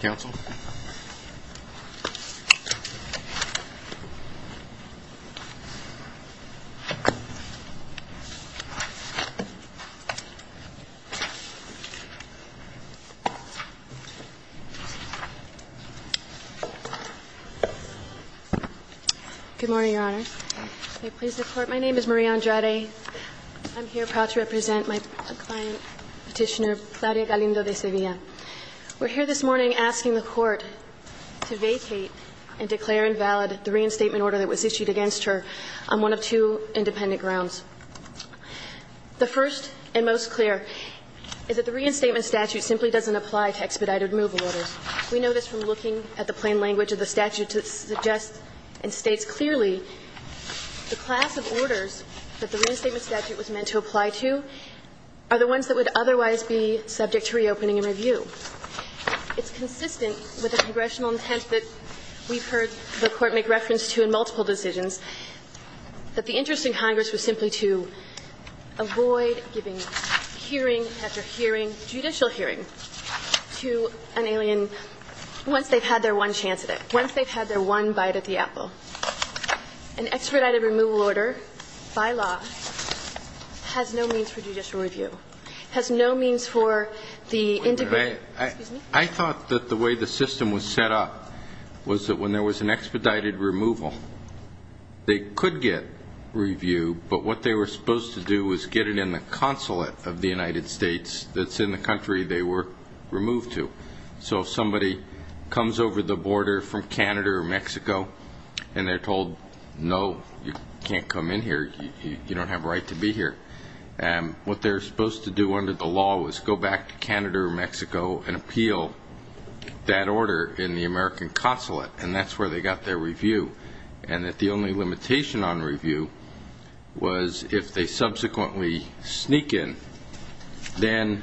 Counsel Good morning, Your Honor They please the court. My name is Maria Andrade I'm here proud to represent my client petitioner Claudia Galindo de Sevilla We're here this morning asking the court to vacate and declare invalid the reinstatement order that was issued against her on one of two independent grounds The first and most clear is that the reinstatement statute simply doesn't apply to expedited removal orders We know this from looking at the plain language of the statute to suggest and states clearly the class of orders that the reinstatement statute was meant to apply to Are the ones that would otherwise be subject to reopening and review It's consistent with the congressional intent that we've heard the court make reference to in multiple decisions that the interest in Congress was simply to avoid giving hearing after hearing judicial hearing to an alien once they've had their one chance at it once they've had their one bite at the apple an expedited removal order by law Has no means for judicial review has no means for the I I thought that the way the system was set up was that when there was an expedited removal They could get review But what they were supposed to do was get it in the consulate of the United States that's in the country They were removed to so if somebody comes over the border from Canada or Mexico And they're told no you can't come in here you don't have a right to be here and What they're supposed to do under the law was go back to Canada or Mexico and appeal That order in the American consulate and that's where they got their review and that the only limitation on review was if they subsequently sneak in then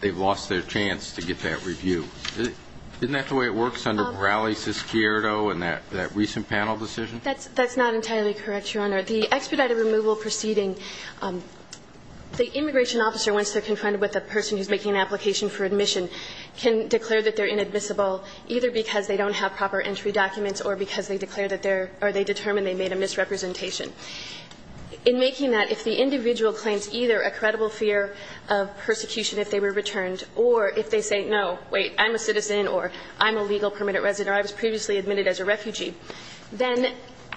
They've lost their chance to get that review Isn't that the way it works under Raleigh Syskierdo and that that recent panel decision That's that's not entirely correct your honor the expedited removal proceeding The immigration officer once they're confronted with a person who's making an application for admission Can declare that they're inadmissible either because they don't have proper entry documents or because they declare that they're are they determined They made a misrepresentation in making that if the individual claims either a credible fear of I'm a citizen or I'm a legal permitted resident. I was previously admitted as a refugee Then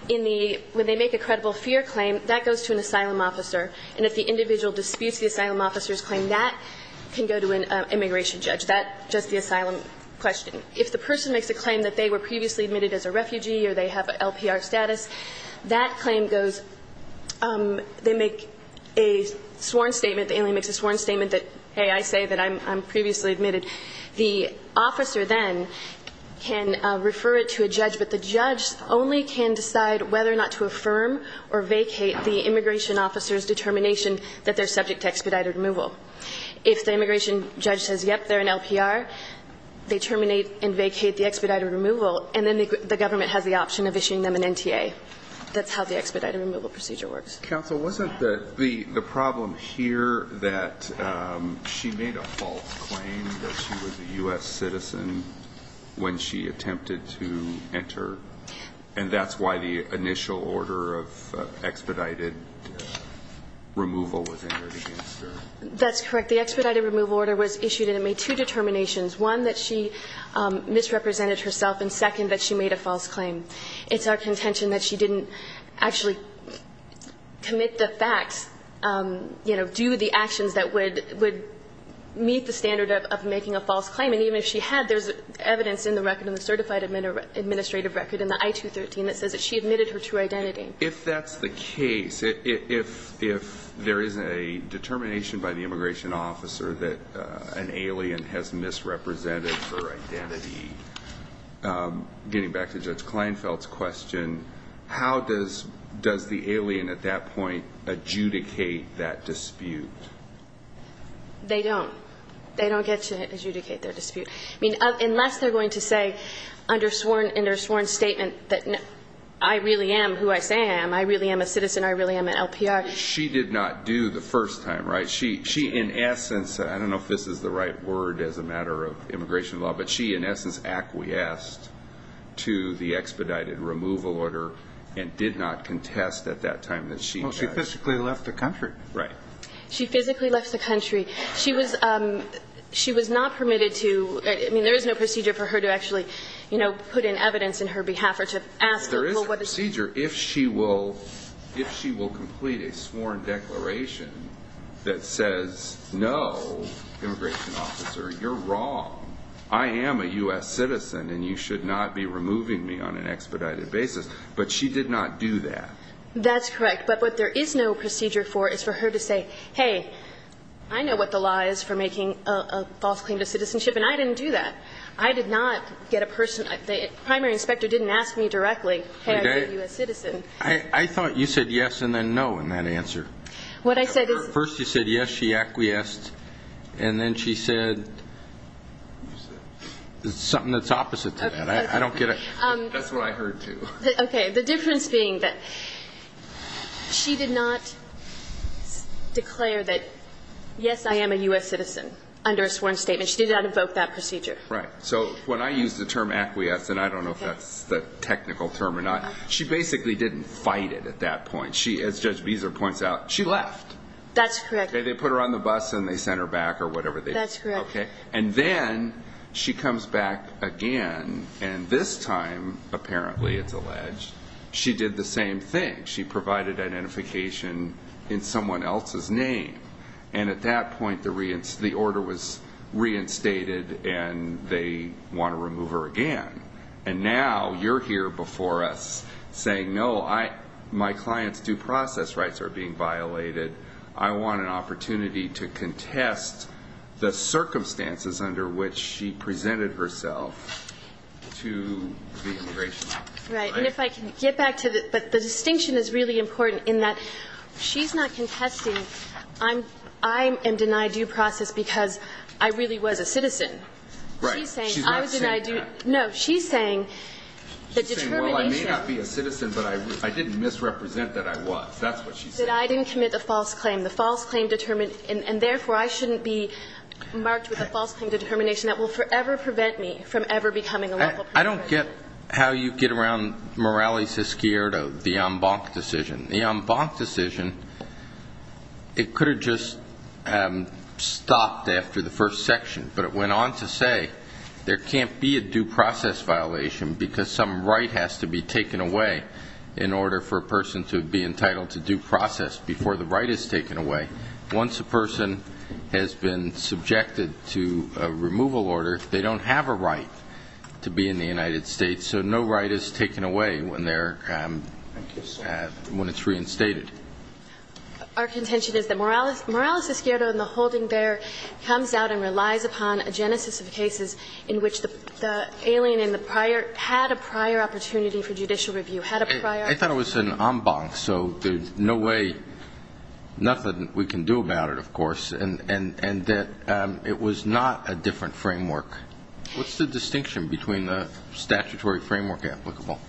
in the when they make a credible fear claim that goes to an asylum officer And if the individual disputes the asylum officers claim that can go to an immigration judge that just the asylum Question if the person makes a claim that they were previously admitted as a refugee or they have an LPR status that claim goes they make a sworn statement the alien makes a sworn statement that hey I say that I'm previously admitted the officer then Can refer it to a judge? But the judge only can decide whether or not to affirm or vacate the immigration officers Determination that they're subject to expedited removal if the immigration judge says yep, they're an LPR They terminate and vacate the expedited removal and then the government has the option of issuing them an NTA That's how the expedited removal procedure works counsel wasn't that the the problem here that? She made a false claim that she was a u.s. Citizen When she attempted to enter and that's why the initial order of expedited Removal was entered That's correct. The expedited removal order was issued and it made two determinations one that she Misrepresented herself and second that she made a false claim. It's our contention that she didn't actually Commit the facts You know do the actions that would would Meet the standard of making a false claim and even if she had there's evidence in the record in the certified admin Administrative record in the i-213 that says that she admitted her to identity if that's the case if if there is a Determination by the immigration officer that an alien has misrepresented her identity Getting back to judge Kleinfeld's question, how does does the alien at that point adjudicate that dispute? They don't they don't get to adjudicate their dispute. I mean unless they're going to say Undersworn undersworn statement that no, I really am who I say I am. I really am a citizen. I really am an LPR She did not do the first time right? She she in essence I don't know if this is the right word as a matter of immigration law, but she in essence acquiesced To the expedited removal order and did not contest at that time that she physically left the country, right? She physically left the country. She was She was not permitted to I mean there is no procedure for her to actually You know put in evidence in her behalf or to ask there is a procedure if she will If she will complete a sworn declaration That says no You're wrong I am a US citizen and you should not be removing me on an expedited basis, but she did not do that That's correct. But what there is no procedure for is for her to say hey I know what the law is for making a false claim to citizenship and I didn't do that I did not get a person at the primary inspector didn't ask me directly I thought you said yes, and then no in that answer what I said first. You said yes, she acquiesced and then she said Something that's opposite to that. I don't get it. That's what I heard too. Okay, the difference being that She did not Declare that Yes, I am a US citizen under a sworn statement. She did not evoke that procedure, right? She basically didn't fight it at that point. She as judge Beezer points out she left. That's correct They put her on the bus and they sent her back or whatever. That's okay. And then she comes back again And this time apparently it's alleged. She did the same thing she provided identification in someone else's name and at that point the reins the order was Reinstated and they want to remove her again. And now you're here before us Saying no, I my clients due process rights are being violated. I want an opportunity to contest the circumstances under which she presented herself to Right, and if I can get back to this, but the distinction is really important in that She's not contesting. I'm I am denied due process because I really was a citizen No, she's saying I didn't misrepresent that. I was that's what she said. I didn't commit the false claim the false claim determined and therefore I shouldn't be Marked with a false claim to determination that will forever prevent me from ever becoming a local. I don't get how you get around Morales is scared of the en banc decision the en banc decision it could have just Stopped after the first section, but it went on to say there can't be a due process Violation because some right has to be taken away in Order for a person to be entitled to due process before the right is taken away Once a person has been subjected to a removal order, they don't have a right to be in the United States So no right is taken away when they're When it's reinstated Our contention is that Morales Morales is scared on the holding bear Comes out and relies upon a genesis of cases in which the Alien in the prior had a prior opportunity for judicial review had a prior. I thought it was an en banc. So there's no way Nothing we can do about it. Of course, and and and that it was not a different framework What's the distinction between the statutory framework applicable?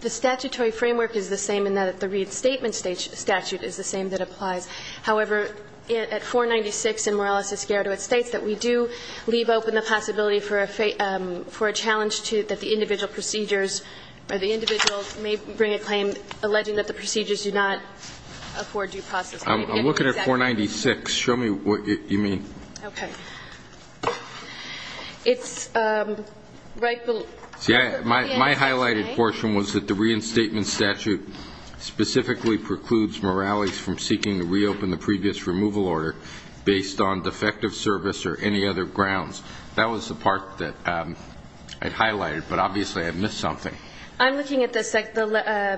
The statutory framework is the same in that the Reid statement stage statute is the same that applies However it at 496 and Morales is scared of its states that we do leave open the possibility for a fate For a challenge to that the individual procedures or the individuals may bring a claim alleging that the procedures do not Afford you process. I'm looking at 496. Show me what you mean? Okay It's Right. Yeah, my highlighted portion was that the reinstatement statute Specifically precludes Morales from seeking to reopen the previous removal order based on defective service or any other grounds that was the part that I Highlighted, but obviously I've missed something I'm looking at the SEC the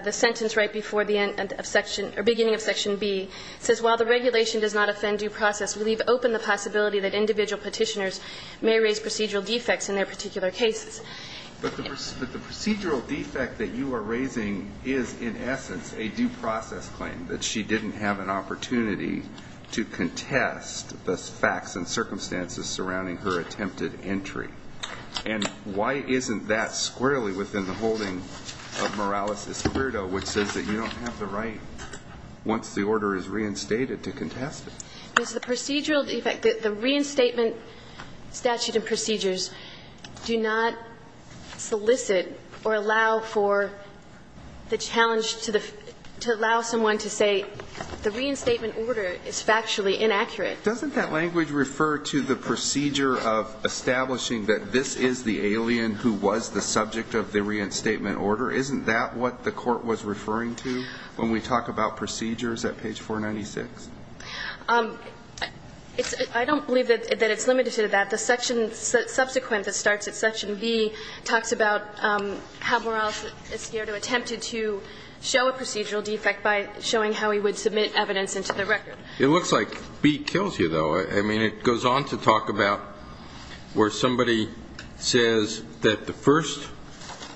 the sentence right before the end of section or beginning of section B Says while the regulation does not offend due process. We leave open the possibility that individual petitioners may raise procedural defects in their particular cases But the procedural defect that you are raising is in essence a due process claim that she didn't have an opportunity to contest the facts and circumstances surrounding her attempted entry and Why isn't that squarely within the holding of Morales's weirdo, which says that you don't have the right? Once the order is reinstated to contest it is the procedural defect that the reinstatement statute of procedures Do not solicit or allow for the challenge to the to allow someone to say the reinstatement order is factually inaccurate doesn't that language refer to the procedure of Establishing that this is the alien who was the subject of the reinstatement order Isn't that what the court was referring to when we talk about procedures at page 496? I don't believe that it's limited to that the section subsequent that starts at section B talks about How Morales is here to attempted to show a procedural defect by showing how he would submit evidence into the record It looks like B kills you though. I mean it goes on to talk about where somebody Says that the first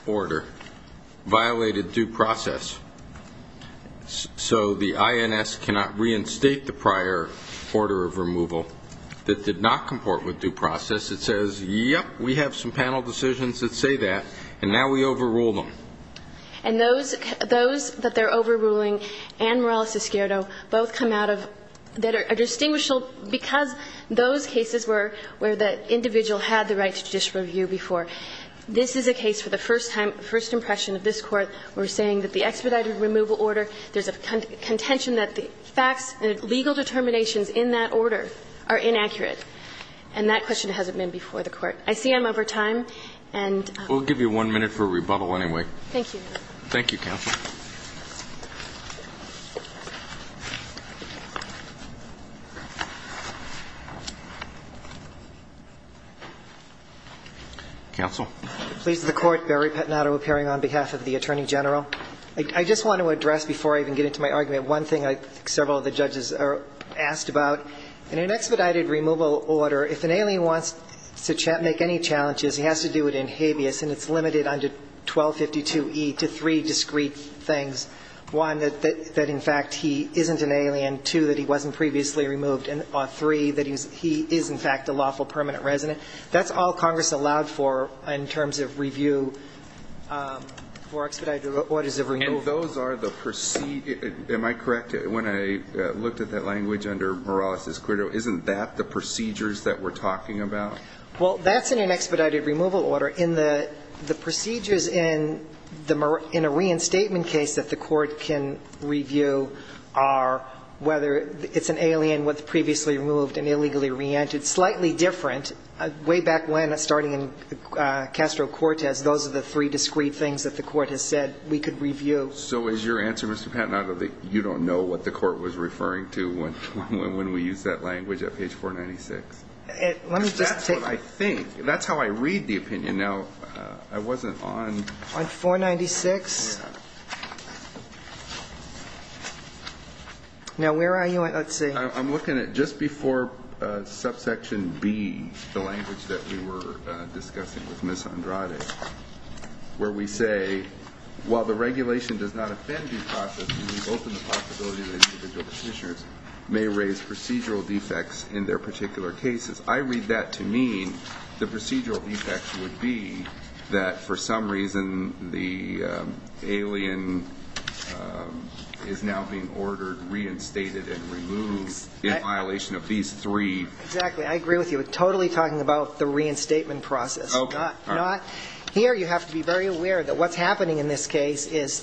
order violated due process So the INS cannot reinstate the prior order of removal that did not comport with due process It says yep. We have some panel decisions that say that and now we overrule them and Those those that they're overruling and Morales is scared. Oh both come out of that are distinguishable because Those cases were where the individual had the right to judicial review before This is a case for the first time first impression of this court We're saying that the expedited removal order there's a contention that the facts and legal determinations in that order are inaccurate And that question hasn't been before the court. I see I'm over time and We'll give you one minute for a rebuttal. Anyway, thank you. Thank you Counsel Counsel please the court Barry Pettinato appearing on behalf of the Attorney General I just want to address before I even get into my argument one thing I think several of the judges are asked about in an expedited removal order if an alien wants To chat make any challenges. He has to do it in habeas and it's limited under 1252 e to three discreet things one that that in fact He isn't an alien to that. He wasn't previously removed and on three that he's he is in fact a lawful permanent resident That's all Congress allowed for in terms of review For expedited what is the room? Those are the proceed? Am I correct when I looked at that language under Morales's credo? Isn't that the procedures that we're talking about? Well, that's in an expedited removal order in the the procedures in the Murrah in a reinstatement case that the court can review our Whether it's an alien with previously removed and illegally re-entered slightly different way back when a starting in Castro Cortez, those are the three discreet things that the court has said we could review. So is your answer? Mr. Patton out of the you don't know what the court was referring to when when we use that language at page 496 Let me just say I think that's how I read the opinion now. I wasn't on on 496 Now where are you I'd say I'm looking at just before Subsection B the language that we were discussing with Miss Andrade where we say While the regulation does not offend May raise procedural defects in their particular cases I read that to mean the procedural defects would be that for some reason the alien Is now being ordered reinstated and removed in violation of these three exactly I agree with you with totally talking about the reinstatement process. Okay, not here You have to be very aware that what's happening in this case is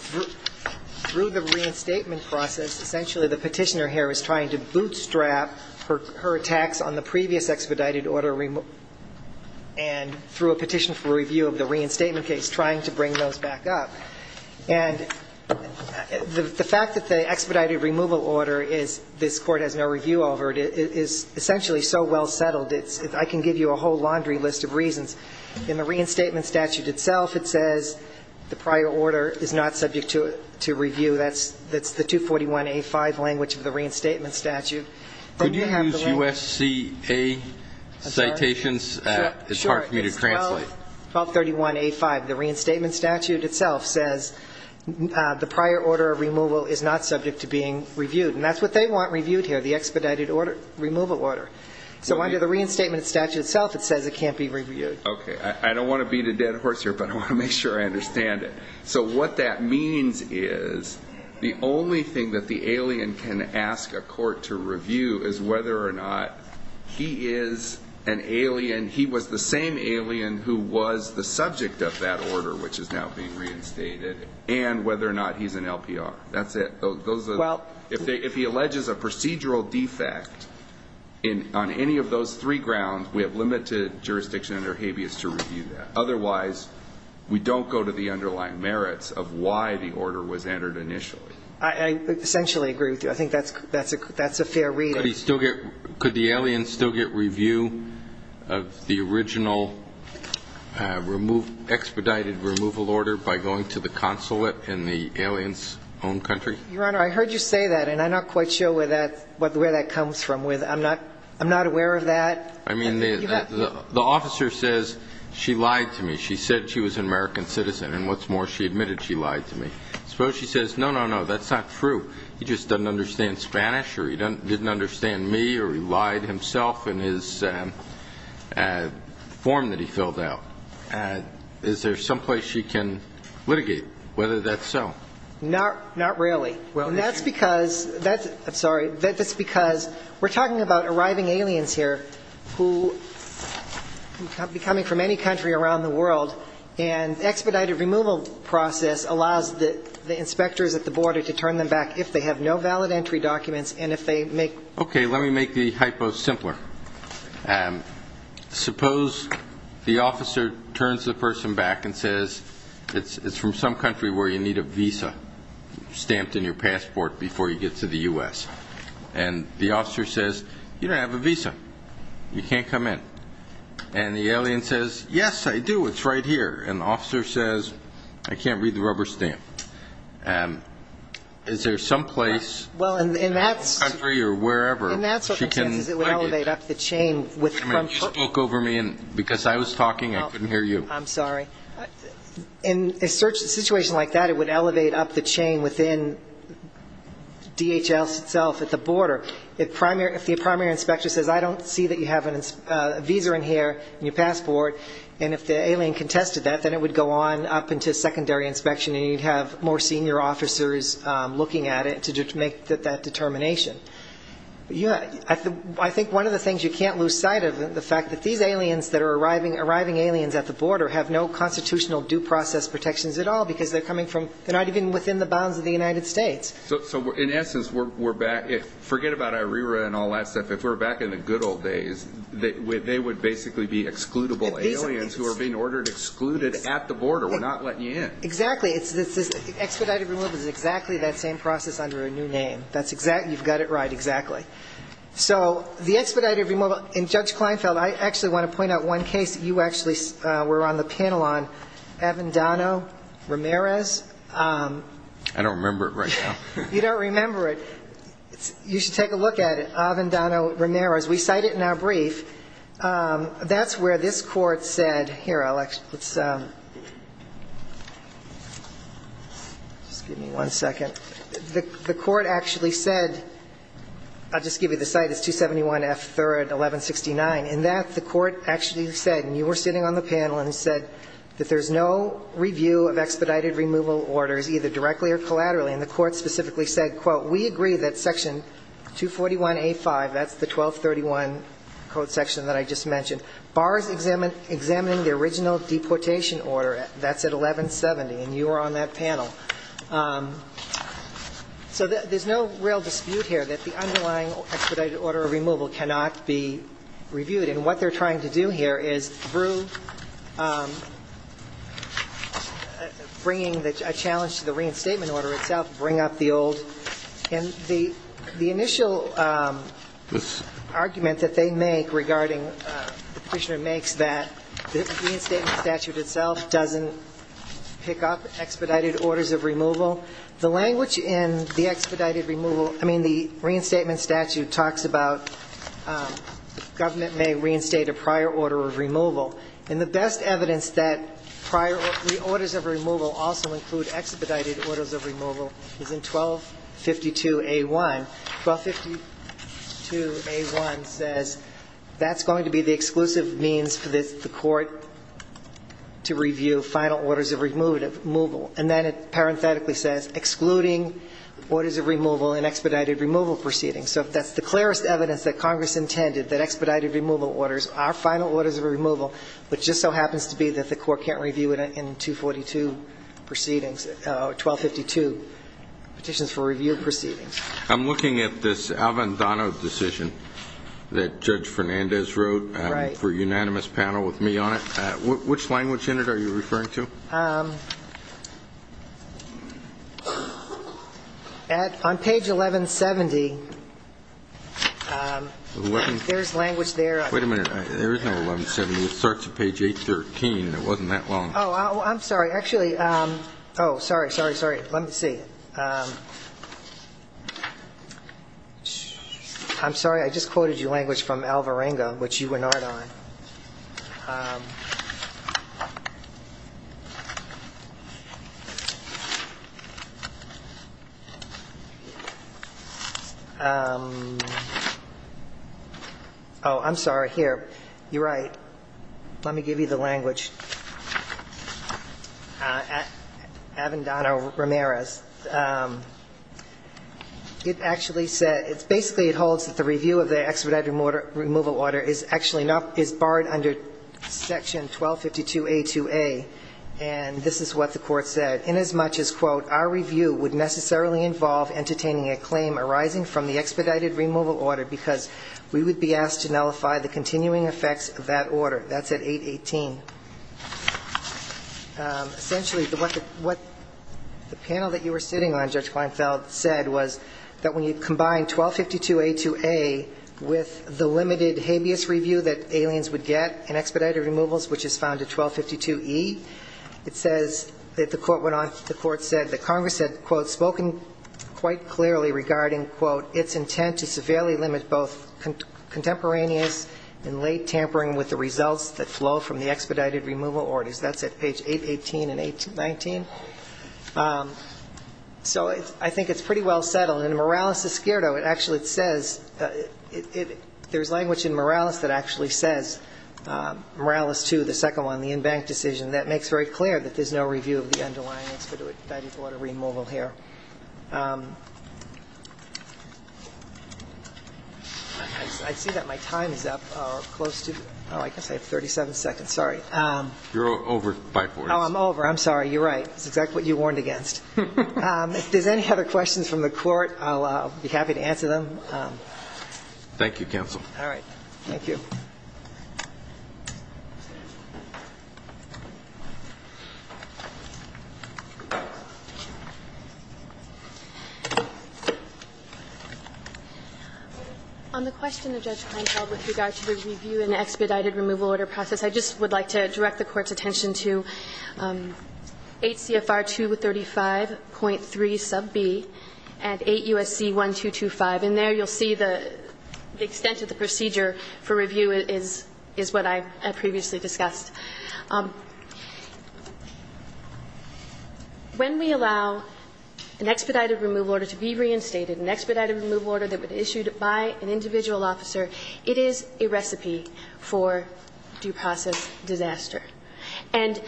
Through the reinstatement process essentially the petitioner here is trying to bootstrap for her attacks on the previous expedited order and through a petition for review of the reinstatement case trying to bring those back up and The fact that the expedited removal order is this court has no review over it is essentially so well settled It's if I can give you a whole laundry list of reasons in the reinstatement statute itself It says the prior order is not subject to it to review. That's that's the 241 a5 language of the reinstatement statute Did you have to use USC a? Citations, it's hard for me to translate 1231 a5 the reinstatement statute itself says The prior order of removal is not subject to being reviewed and that's what they want reviewed here the expedited order removal order So under the reinstatement statute itself, it says it can't be reviewed Okay, I don't want to beat a dead horse here, but I want to make sure I understand it so what that means is The only thing that the alien can ask a court to review is whether or not He is an alien He was the same alien who was the subject of that order which is now being reinstated And whether or not he's an LPR. That's it. Those are well if he alleges a procedural defect in Any of those three grounds we have limited jurisdiction under habeas to review that otherwise We don't go to the underlying merits of why the order was entered initially. I Essentially agree with you. I think that's that's a that's a fair reading still get could the alien still get review of the original Remove expedited removal order by going to the consulate in the aliens own country your honor I heard you say that and I'm not quite sure where that what the way that comes from with I'm not I'm not aware of that. I mean the The officer says she lied to me. She said she was an American citizen and what's more she admitted She lied to me suppose. She says no. No, no, that's not true He just doesn't understand Spanish or he didn't understand me or he lied himself in his Form that he filled out and is there someplace she can litigate whether that's so not not really That's because that's I'm sorry that that's because we're talking about arriving aliens here who Becoming from any country around the world and expedited removal process allows that the inspectors at the border to turn them back if they have no valid entry documents and if they make Okay, let me make the hypo simpler Suppose the officer turns the person back and says it's it's from some country where you need a visa Stamped in your passport before you get to the u.s. And the officer says you don't have a visa You can't come in and the alien says yes, I do. It's right here an officer says I can't read the rubber stamp and Is there some place well in that country or wherever and that's it would elevate up the chain with me She spoke over me and because I was talking I couldn't hear you. I'm sorry In a search situation like that it would elevate up the chain within DHS itself at the border it primary if the primary inspector says I don't see that you have an Visa in here and your passport and if the alien contested that then it would go on up into secondary inspection And you'd have more senior officers looking at it to just make that that determination Yeah I think one of the things you can't lose sight of the fact that these aliens that are arriving arriving aliens at the border have No constitutional due process protections at all because they're coming from they're not even within the bounds of the United States So in essence, we're back if forget about our era and all that stuff if we're back in the good old days They would they would basically be excludable aliens who are being ordered excluded at the border. We're not letting you in exactly It's this expedited removal is exactly that same process under a new name. That's exact. You've got it, right? Exactly So the expedited removal in judge Kleinfeld I actually want to point out one case that you actually were on the panel on Avendano Ramirez I don't remember it right now. You don't remember it You should take a look at it. Avendano Ramirez. We cite it in our brief That's where this court said here. I like it's Just give me one second the the court actually said I'll just give you the site It's 271 F 3rd 1169 in that the court actually said and you were sitting on the panel and said that there's no Review of expedited removal orders either directly or collaterally and the court specifically said quote we agree that section 241 a 5 that's the 1231 Code section that I just mentioned bars examine examining the original deportation order. That's at 1170 and you are on that panel So that there's no real dispute here that the underlying expedited order of removal cannot be Reviewed and what they're trying to do here is through Bringing the challenge to the reinstatement order itself bring up the old and the the initial Argument that they make regarding the prisoner makes that the reinstatement statute itself doesn't Pick up expedited orders of removal the language in the expedited removal. I mean the reinstatement statute talks about Government may reinstate a prior order of removal and the best evidence that Prior the orders of removal also include expedited orders of removal is in 12 52 a 1 1252 a 1 says that's going to be the exclusive means for this the court To review final orders of removal and then it parenthetically says excluding Orders of removal and expedited removal proceedings So if that's the clearest evidence that Congress intended that expedited removal orders our final orders of removal But just so happens to be that the court can't review it in 242 proceedings 1252 Petitions for review proceedings. I'm looking at this Alvin Dono decision That judge Fernandez wrote right for unanimous panel with me on it which language in it are you referring to? At on page 1170 There's language there, wait a minute Starts at page 813. It wasn't that long. Oh, I'm sorry. Actually. Oh, sorry. Sorry. Sorry. Let me see I'm sorry. I just quoted you language from Alvarenga, which you were not on Oh I'm sorry here. You're right. Let me give you the language At Avan Dono Ramirez It actually said it's basically it holds that the review of the expedited mortar removal order is actually not is barred under section 1252 a 2a and This is what the court said in as much as quote our review would necessarily involve Entertaining a claim arising from the expedited removal order because we would be asked to nullify the continuing effects of that order That's at 818 Essentially the weapon what The panel that you were sitting on judge Klinefeld said was that when you combine 1252 a 2a With the limited habeas review that aliens would get an expedited removals, which is found at 1252 e It says that the court went on the court said that Congress had quote spoken quite clearly regarding quote It's intent to severely limit both Contemporaneous in late tampering with the results that flow from the expedited removal orders. That's at page 818 and 819 So it's I think it's pretty well settled in Morales is scared. Oh, it actually it says There's language in Morales that actually says Morales to the second one the in-bank decision that makes very clear that there's no review of the underlying expedited water removal here I'd see that my time is up close to oh, I guess I have 37 seconds. Sorry. You're over by four. No, I'm over I'm sorry, you're right. It's exactly what you warned against If there's any other questions from the court, I'll be happy to answer them Thank you counsel. All right. Thank you On the question the judge with regard to the review and expedited removal order process, I just would like to direct the court's attention to 8 CFR 235.3 sub B and 8 USC 1225 and there you'll see the Extent of the procedure for review is is what I had previously explained to you When we allow an expedited removal order to be reinstated an expedited removal order that would issued by an individual officer It is a recipe for due process disaster and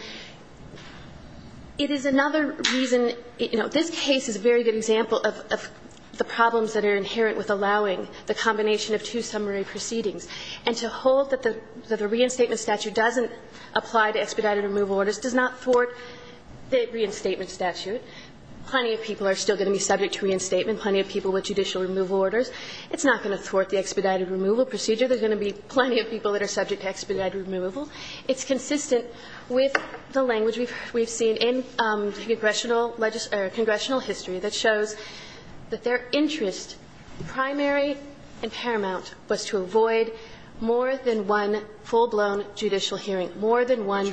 It is another reason, you know, this case is a very good example of the problems that are inherent with allowing the combination of two summary proceedings And to hold that the that a reinstatement statute doesn't apply to expedited removal orders does not thwart the reinstatement statute Plenty of people are still going to be subject to reinstatement plenty of people with judicial removal orders It's not going to thwart the expedited removal procedure. There's going to be plenty of people that are subject to expedited removal It's consistent with the language we've we've seen in the congressional Legislature congressional history that shows that their interest Primary and paramount was to avoid more than one full-blown judicial hearing more than one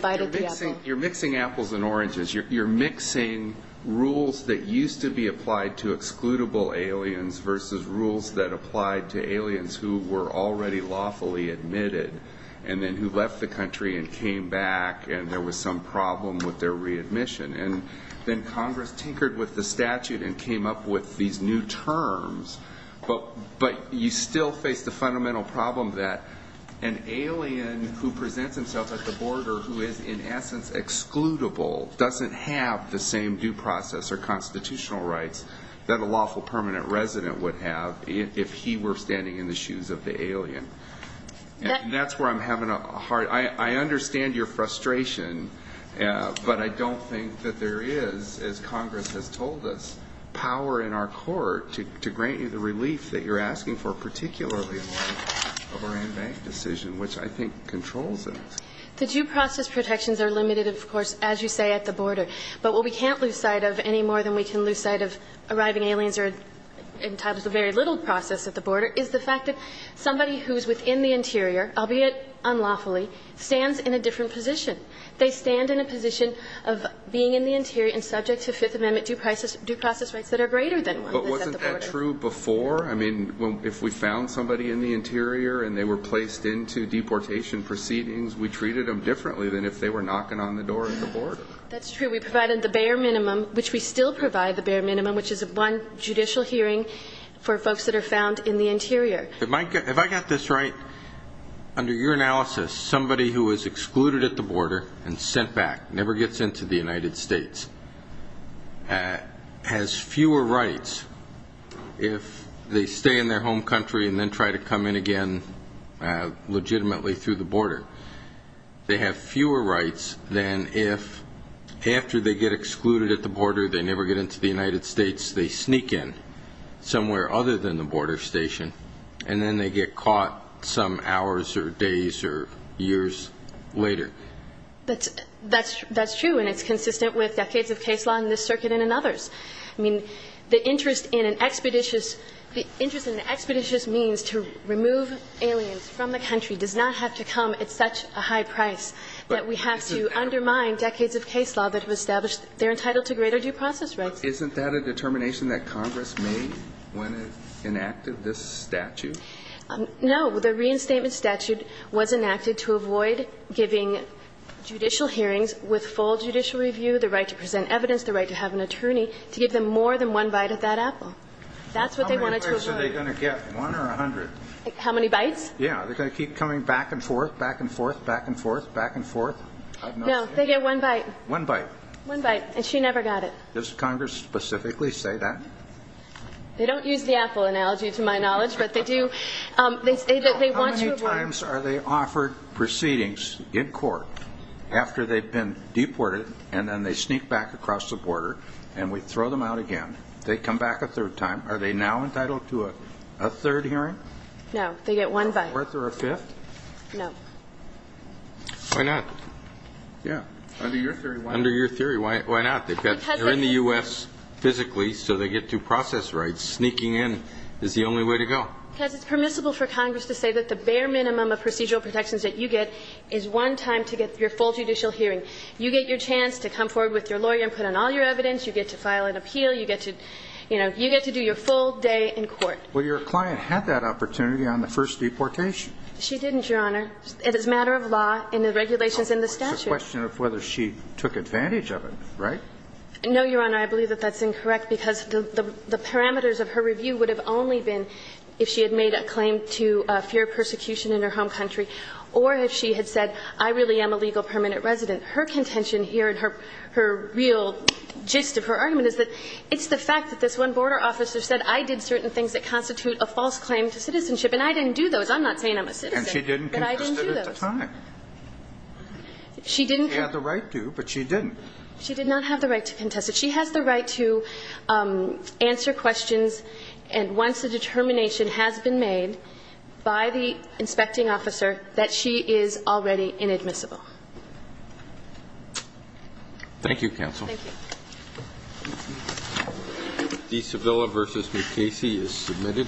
You're mixing apples and oranges you're mixing rules that used to be applied to excludable aliens Versus rules that applied to aliens who were already lawfully admitted And then who left the country and came back and there was some problem with their readmission And then Congress tinkered with the statute and came up with these new terms But but you still face the fundamental problem that an alien Who presents himself at the border who is in essence excludable doesn't have The same due process or constitutional rights that a lawful permanent resident would have If he were standing in the shoes of the alien That's where I'm having a hard I understand your frustration But I don't think that there is as Congress has told us To to grant you the relief that you're asking for particularly Decision which I think controls the due process protections are limited of course as you say at the border But what we can't lose sight of any more than we can lose sight of arriving aliens are In times of very little process at the border is the fact that somebody who's within the interior Albeit unlawfully stands in a different position they stand in a position Of being in the interior and subject to Fifth Amendment due prices due process rights that are greater than But wasn't that true before I mean if we found somebody in the interior and they were placed Into deportation proceedings we treated them differently than if they were knocking on the door That's true we provided the bare minimum which we still provide the bare minimum which is one judicial Hearing for folks that are found in the interior it might get if I got this right Under your analysis somebody who was excluded at the border and sent back never gets into the United States Has fewer rights if they stay in their home country and then try to come in again Legitimately through the border they have fewer rights than if after they get excluded at the border They never get into the United States they sneak in somewhere other than the border station And then they get caught some hours or days or years later That's that's that's true and it's consistent with decades of case law in this circuit and in others I mean the interest in an expeditious interest in an expeditious means to remove Aliens from the country does not have to come at such a high price that we have to Undermine decades of case law that have established they're entitled to greater due process rights Isn't that a determination that Congress made when it enacted this statute No the reinstatement statute was enacted to avoid giving judicial hearings With full judicial review the right to present evidence the right to have an attorney to give them more than one bite Of that apple that's what they wanted to get one or a hundred how many bites Yeah they're going to keep coming back and forth back and forth back and forth back and forth No they get one bite one bite one bite and she never got it this Congress specifically say that They don't use the apple analogy to my knowledge but they do they say that they want to How many times are they offered proceedings in court after they've been deported And then they sneak back across the border and we throw them out again they come back a third time Are they now entitled to a third hearing no they get one bite worth or a fifth Why not yeah under your theory why under your theory why not they've got They're in the U.S. physically so they get due process rights sneaking in is the only way to go Because it's permissible for Congress to say that the bare minimum of procedural protections that you get Is one time to get your full judicial hearing you get your chance to come forward with your lawyer and put on all your evidence You get to file an appeal you get to you know you get to do your full day in court Well your client had that opportunity on the first deportation she didn't your honor it is matter of law In the regulations in the statute question of whether she took advantage of it right No your honor I believe that that's incorrect because the parameters of her review would have only been If she had made a claim to fear persecution in her home country or if she had said I really am a legal permanent resident her contention here and her her real gist of her argument Is that it's the fact that this one border officer said I did certain things that constitute a false claim to citizenship And I didn't do those I'm not saying I'm a citizen she didn't get I didn't do that She didn't have the right to but she didn't she did not have the right to contest that she has the right to Answer questions and once the determination has been made By the inspecting officer that she is already inadmissible Thank you counsel The Sevilla versus Casey is submitted